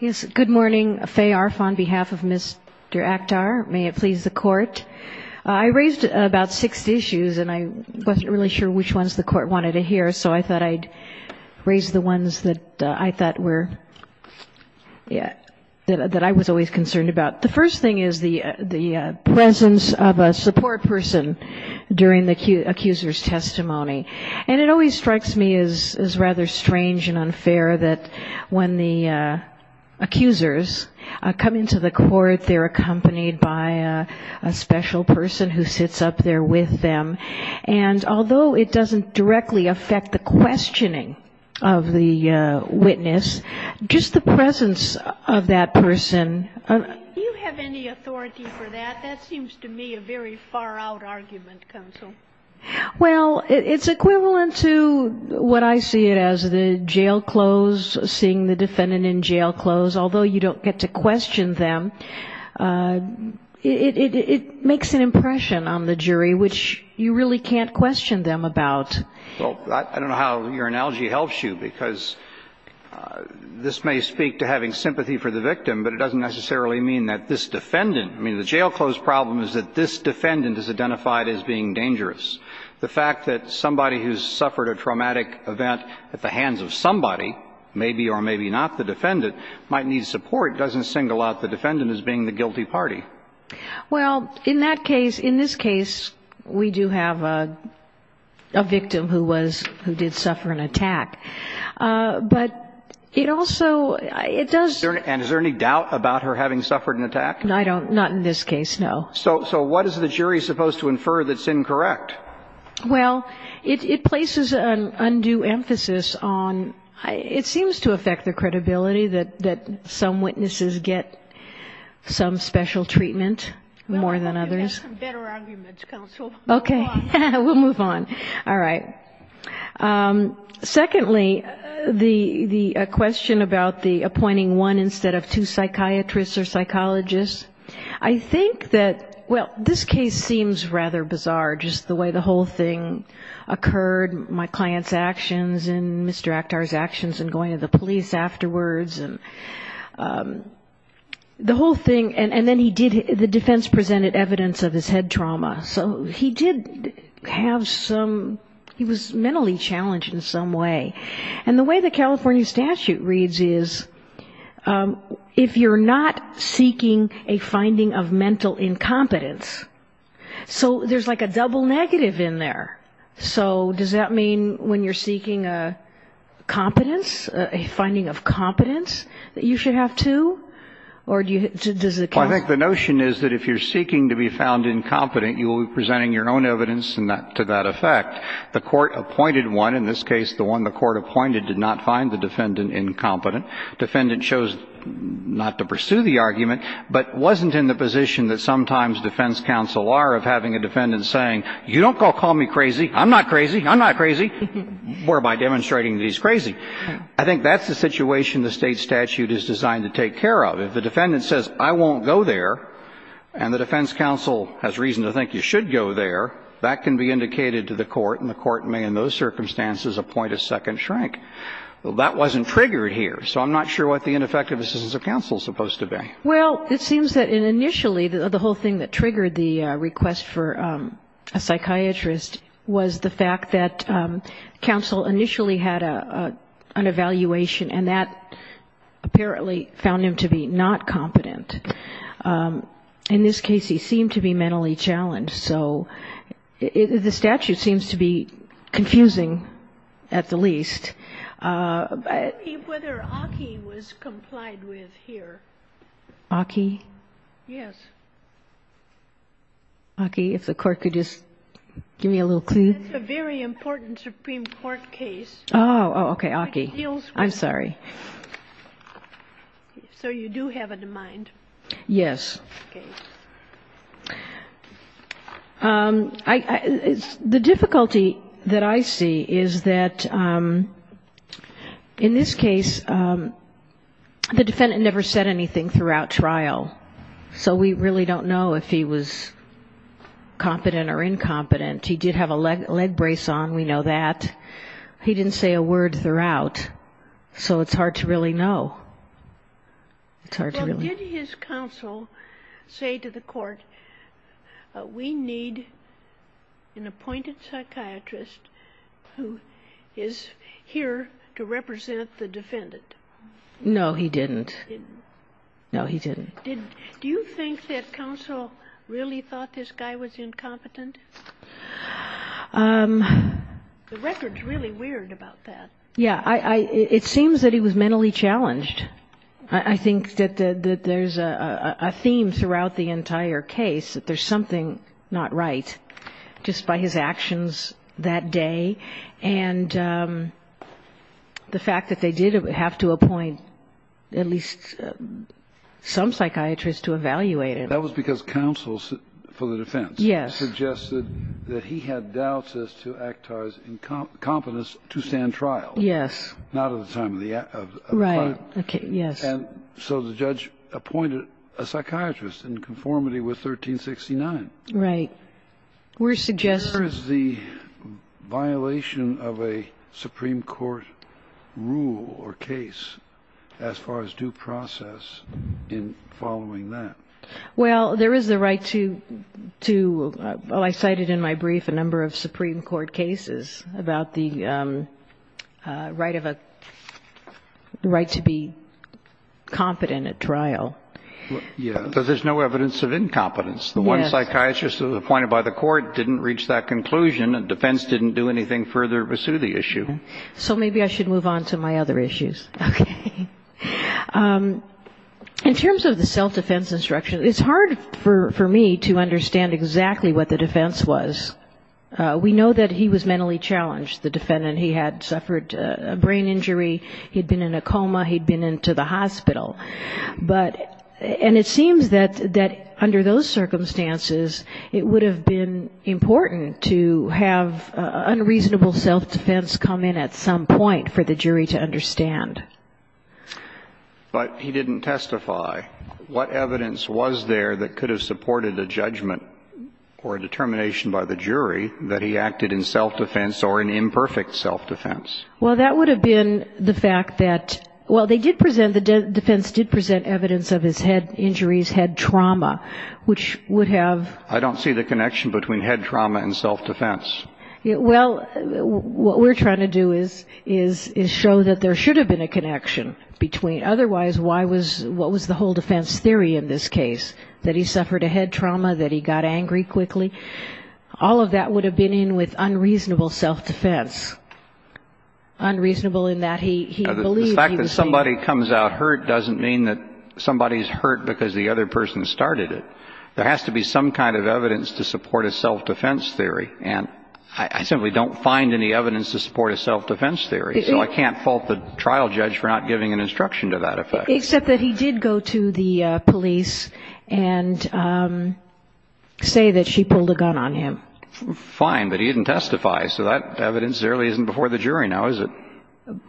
Yes, good morning. Faye Arf on behalf of Mr. Akhtar. May it please the court. I raised about six issues and I wasn't really sure which ones the court wanted to hear, so I thought I'd raise the ones that I thought were, that I was always concerned about. The first thing is the presence of a support person during the accuser's testimony. And it always strikes me as rather strange and unfair that when the accusers come into the court, they're accompanied by a special person who sits up there with them. And although it doesn't directly affect the questioning of the witness, just the presence of that person. Do you have any authority for that? That seems to me a very far-out argument, counsel. Well, it's equivalent to what I see it as, the jail clothes, seeing the defendant in jail clothes. Although you don't get to question them, it makes an impression on the jury which you really can't question them about. Well, I don't know how your analogy helps you, because this may speak to having sympathy for the victim, but it doesn't necessarily mean that this defendant, I mean, the jail clothes problem is that this defendant is identified as being dangerous. The fact that somebody who's suffered a traumatic event at the hands of somebody, maybe or maybe not the defendant, might need support doesn't single out the defendant as being the guilty party. Well, in that case, in this case, we do have a victim who did suffer an attack. But it also, it does... And is there any doubt about her having suffered an attack? Not in this case, no. So what is the jury supposed to infer that's incorrect? Well, it places an undue emphasis on, it seems to affect the credibility that some witnesses get some special treatment more than others. Well, I hope you have some better arguments, counsel. Okay. Move on. We'll move on. All right. Secondly, the question about the appointing one instead of two psychiatrists or psychologists. I think that, well, this case seems rather bizarre, just the way the whole thing occurred, my client's actions and Mr. Akhtar's actions in going to the police afterwards. The whole thing, and then he did, the defense presented evidence of his head trauma, so he did have some, he was mentally challenged in some way. And the way the California statute reads is, if you're not seeking a finding of mental incompetence, so there's like a double negative in there. So does that mean when you're seeking a competence, a finding of competence, that you should have two? Or does it count? Well, I think the notion is that if you're seeking to be found incompetent, you will be presenting your own evidence to that effect. The court appointed one. In this case, the one the court appointed did not find the defendant incompetent. Defendant chose not to pursue the argument, but wasn't in the position that sometimes defense counsel are of having a defendant saying, you don't call me crazy, I'm not crazy, I'm not crazy, whereby demonstrating that he's crazy. I think that's the situation the State statute is designed to take care of. If the defendant says, I won't go there, and the defense counsel has reason to think you should go there, that can be indicated to the court, and the court may in those circumstances appoint a second shrink. That wasn't triggered here, so I'm not sure what the ineffective assistance of counsel is supposed to be. Well, it seems that initially, the whole thing that triggered the request for a psychiatrist was the fact that counsel initially had an evaluation, and that apparently found him to be not competent. In this case, he seemed to be mentally challenged, so the statute seems to be confusing at the least. I don't believe whether Aki was complied with here. Aki? Yes. Aki, if the Court could just give me a little clue. It's a very important Supreme Court case. Oh, okay, Aki. I'm sorry. So you do have it in mind. Yes. The difficulty that I see is that in this case, the defendant never said anything throughout trial, so we really don't know if he was competent or incompetent. He did have a leg brace on, we know that. He didn't say a word throughout, so it's hard to really know. It's hard to really know. Well, did his counsel say to the Court, we need an appointed psychiatrist who is here to represent the defendant? No, he didn't. No, he didn't. Do you think that counsel really thought this guy was incompetent? The record's really weird about that. Yeah, it seems that he was mentally challenged. I think that there's a theme throughout the entire case, that there's something not right, just by his actions that day. And the fact that they did have to appoint at least some psychiatrist, I don't know, a psychiatrist to evaluate him. That was because counsel for the defense suggested that he had doubts as to Actar's incompetence to stand trial. Yes. Not at the time of the trial. Right, okay, yes. And so the judge appointed a psychiatrist in conformity with 1369. Right. We're suggesting... Where is the violation of a Supreme Court rule or case as far as due process in following that? Well, there is the right to, well, I cited in my brief a number of Supreme Court cases about the right to be competent at trial. Yeah, but there's no evidence of incompetence. The one psychiatrist appointed by the court didn't reach that conclusion, and defense didn't do anything further to pursue the issue. So maybe I should move on to my other issues. In terms of the self-defense instruction, it's hard for me to understand exactly what the defense was. We know that he was mentally challenged, the defendant. He had suffered a brain injury, he'd been in a coma, he'd been into the hospital. And it seems that under those circumstances, it would have been important to have unreasonable self-defense come in at some point for the jury to understand. But he didn't testify. What evidence was there that could have supported a judgment or a determination by the jury that he acted in self-defense or in imperfect self-defense? Well, that would have been the fact that, well, they did present, the defense did present evidence of his head injuries, head trauma, which would have... I don't see the connection between head trauma and self-defense. Well, what we're trying to do is show that there should have been a connection between... Otherwise, what was the whole defense theory in this case, that he suffered a head trauma, that he got angry quickly? All of that would have been in with unreasonable self-defense, unreasonable in that he believed he was... The fact that somebody comes out hurt doesn't mean that somebody's hurt because the other person started it. There has to be some kind of evidence to support a self-defense theory. And I simply don't find any evidence to support a self-defense theory, so I can't fault the trial judge for not giving an instruction to that effect. Except that he did go to the police and say that she pulled a gun on him. Fine, but he didn't testify, so that evidence really isn't before the jury now, is it?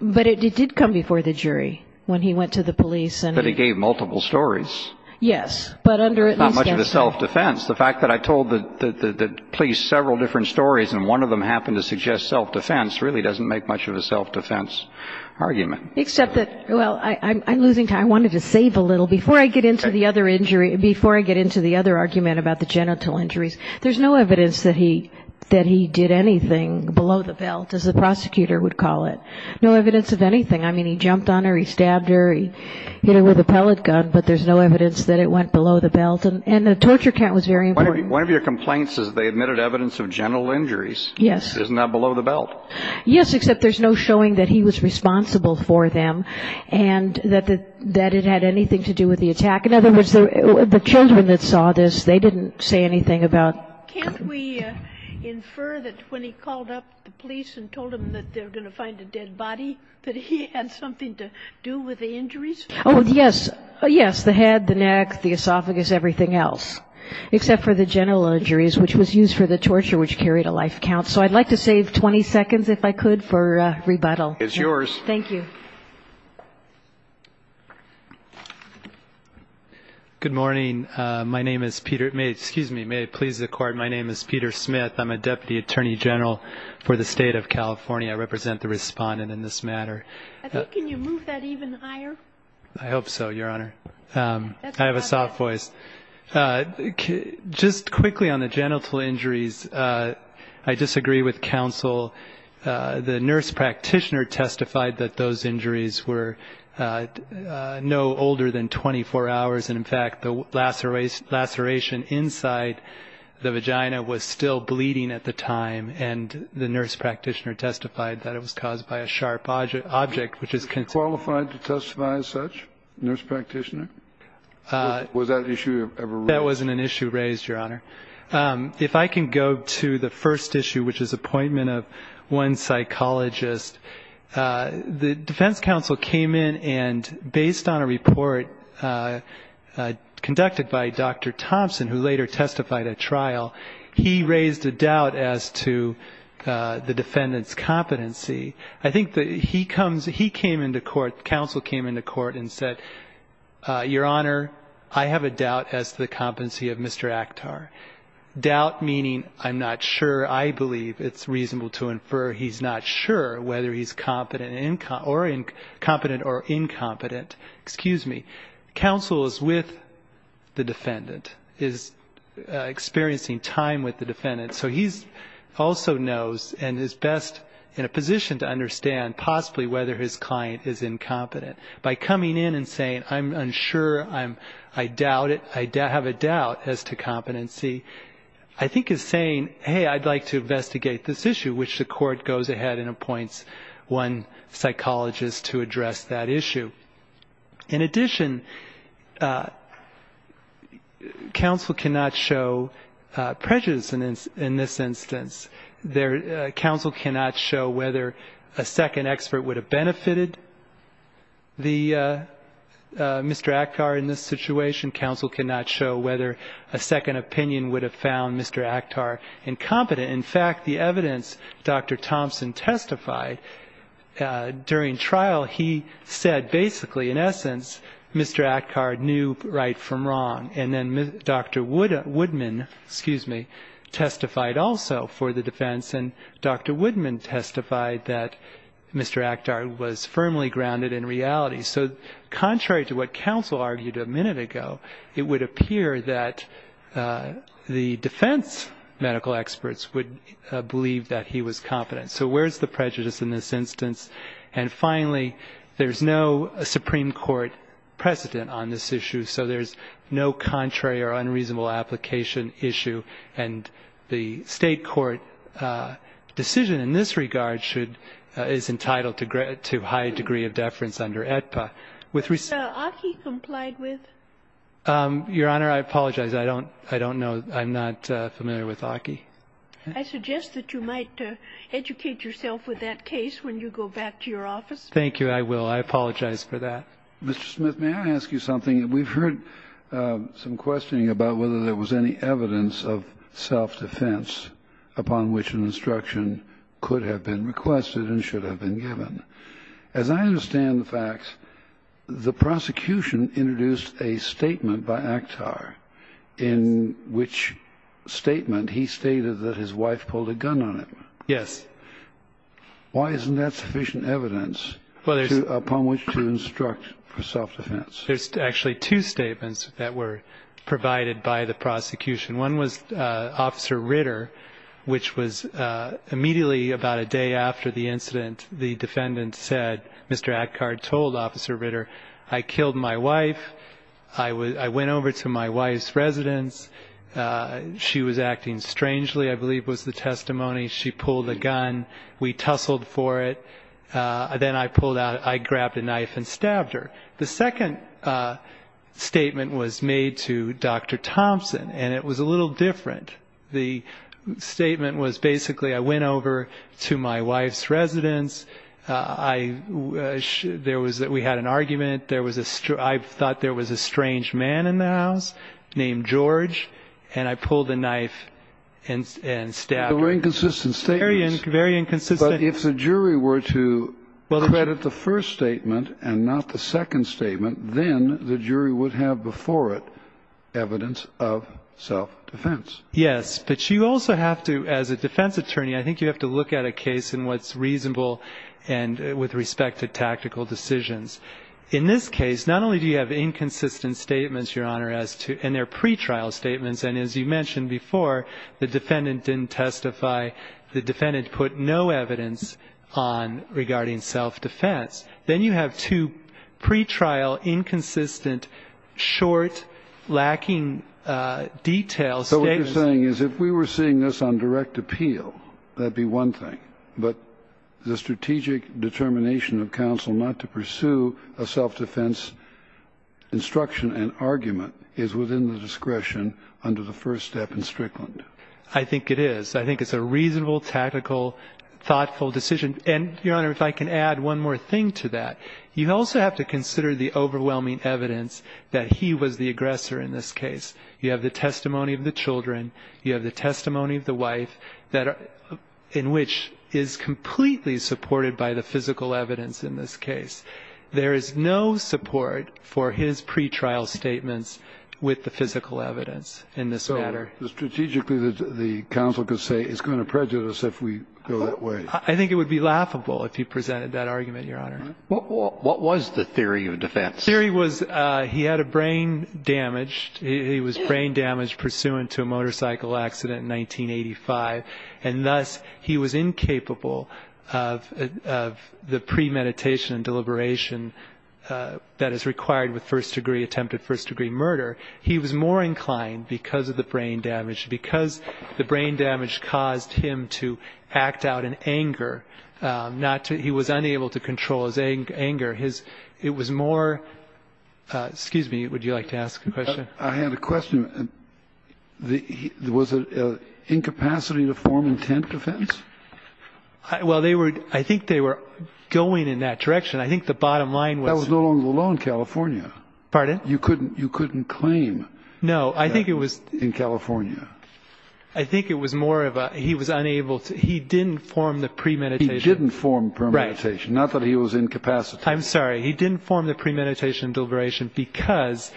But it did come before the jury when he went to the police. But he gave multiple stories. Not much of a self-defense. The fact that I told the police several different stories and one of them happened to suggest self-defense really doesn't make much of a self-defense argument. Except that, well, I'm losing time. I wanted to save a little before I get into the other argument about the genital injuries. There's no evidence that he did anything below the belt, as the prosecutor would call it. No evidence of anything. I mean, he jumped on her, he stabbed her, he hit her with a pellet gun, but there's no evidence that it went below the belt. And the torture count was very important. One of your complaints is they admitted evidence of genital injuries. Isn't that below the belt? Yes, except there's no showing that he was responsible for them and that it had anything to do with the attack. In other words, the children that saw this, they didn't say anything about it. Can't we infer that when he called up the police and told them that they were going to find a dead body, Oh, yes, yes, the head, the neck, the esophagus, everything else. Except for the genital injuries, which was used for the torture, which carried a life count. So I'd like to save 20 seconds, if I could, for rebuttal. Thank you. Good morning. My name is Peter Smith. I'm a Deputy Attorney General for the State of California. I represent the respondent in this matter. I think can you move that even higher? I hope so, Your Honor. I have a soft voice. Just quickly on the genital injuries, I disagree with counsel. The nurse practitioner testified that those injuries were no older than 24 hours, and, in fact, the laceration inside the vagina was still bleeding at the time, and the nurse practitioner testified that it was caused by a sharp object, Are you qualified to testify as such, nurse practitioner? Was that issue ever raised? That wasn't an issue raised, Your Honor. If I can go to the first issue, which is appointment of one psychologist, the defense counsel came in and, based on a report conducted by Dr. Thompson, who later testified at trial, he raised a doubt as to the defendant's competency. I think he came into court, counsel came into court and said, Your Honor, I have a doubt as to the competency of Mr. Akhtar. Doubt meaning I'm not sure, I believe it's reasonable to infer he's not sure whether he's competent or incompetent. Excuse me. Counsel is with the defendant, is experiencing time with the defendant, so he also knows and is best in a position to understand possibly whether his client is incompetent. By coming in and saying, I'm unsure, I doubt it, I have a doubt as to competency, I think is saying, hey, I'd like to investigate this issue, which the court goes ahead and appoints one psychologist to address that issue. In addition, counsel cannot show prejudice in this instance. Counsel cannot show whether a second expert would have benefited Mr. Akhtar in this situation. Counsel cannot show whether a second opinion would have found Mr. Akhtar incompetent. In fact, the evidence Dr. Thompson testified during trial, he said basically in essence Mr. Akhtar knew right from wrong. And then Dr. Woodman testified also for the defense, and Dr. Woodman testified that Mr. Akhtar was firmly grounded in reality. So contrary to what counsel argued a minute ago, it would appear that the defense medical experts would believe that he was competent. So where's the prejudice in this instance? And finally, there's no Supreme Court precedent on this issue, so there's no contrary or unreasonable application issue, And the State court decision in this regard is entitled to high degree of deference under AEDPA. Was Aki complied with? Your Honor, I apologize. I don't know. I'm not familiar with Aki. I suggest that you might educate yourself with that case when you go back to your office. Thank you. I will. I apologize for that. Mr. Smith, may I ask you something? We've heard some questioning about whether there was any evidence of self-defense upon which an instruction could have been requested and should have been given. As I understand the facts, the prosecution introduced a statement by Akhtar in which statement he stated that his wife pulled a gun on him. Yes. Why isn't that sufficient evidence upon which to instruct for self-defense? There's actually two statements that were provided by the prosecution. One was Officer Ritter, which was immediately about a day after the incident, the defendant said, Mr. Akhtar told Officer Ritter, I killed my wife. I went over to my wife's residence. She was acting strangely, I believe was the testimony. She pulled a gun. We tussled for it. Then I pulled out. I grabbed a knife and stabbed her. The second statement was made to Dr. Thompson, and it was a little different. The statement was basically I went over to my wife's residence. We had an argument. I thought there was a strange man in the house named George, and I pulled the knife and stabbed her. They were inconsistent statements. Very inconsistent. But if the jury were to credit the first statement and not the second statement, then the jury would have before it evidence of self-defense. Yes. But you also have to, as a defense attorney, I think you have to look at a case and what's reasonable with respect to tactical decisions. In this case, not only do you have inconsistent statements, Your Honor, and they're pretrial statements, and as you mentioned before, the defendant didn't testify. The defendant put no evidence on regarding self-defense. Then you have two pretrial, inconsistent, short, lacking detail statements. So what you're saying is if we were seeing this on direct appeal, that would be one thing, but the strategic determination of counsel not to pursue a self-defense instruction and argument is within the discretion under the first step in Strickland. I think it is. I think it's a reasonable, tactical, thoughtful decision. And, Your Honor, if I can add one more thing to that, you also have to consider the overwhelming evidence that he was the aggressor in this case. You have the testimony of the children. You have the testimony of the wife, in which is completely supported by the physical evidence in this case. There is no support for his pretrial statements with the physical evidence in this matter. Strategically, the counsel could say it's going to prejudice if we go that way. I think it would be laughable if he presented that argument, Your Honor. What was the theory of defense? The theory was he had a brain damaged. He was brain damaged pursuant to a motorcycle accident in 1985, and thus he was incapable of the premeditation and deliberation that is required with first degree attempted first degree murder. He was more inclined because of the brain damage, because the brain damage caused him to act out in anger. He was unable to control his anger. It was more, excuse me, would you like to ask a question? I have a question. Was it incapacity to form intent defense? Well, I think they were going in that direction. I think the bottom line was. That was no longer the law in California. Pardon? You couldn't claim. No, I think it was. In California. I think it was more of a, he was unable to, he didn't form the premeditation. He didn't form premeditation. Right. Not that he was incapacity. I'm sorry. He didn't form the premeditation and deliberation because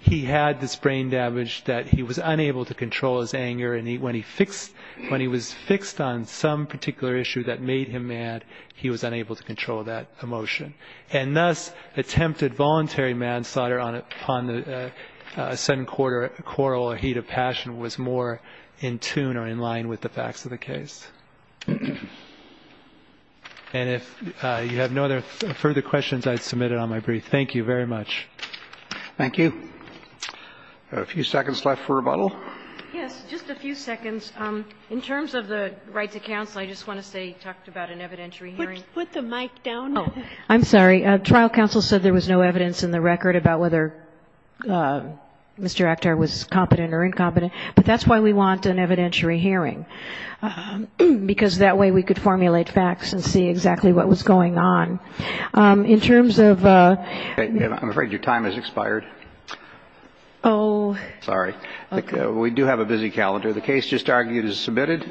he had this brain damage that he was unable to control his anger, and when he was fixed on some particular issue that made him mad, he was unable to control that emotion. And thus attempted voluntary manslaughter upon the sudden quarrel or heat of passion was more in tune or in line with the facts of the case. And if you have no other further questions, I'd submit it on my brief. Thank you very much. Thank you. A few seconds left for rebuttal. Yes. Just a few seconds. In terms of the right to counsel, I just want to say you talked about an evidentiary hearing. Put the mic down. Oh, I'm sorry. Trial counsel said there was no evidence in the record about whether Mr. Akhtar was competent or incompetent, but that's why we want an evidentiary hearing, because that way we could formulate facts and see exactly what was going on. In terms of... I'm afraid your time has expired. Oh. Sorry. Okay. We do have a busy calendar. The case just argued is submitted.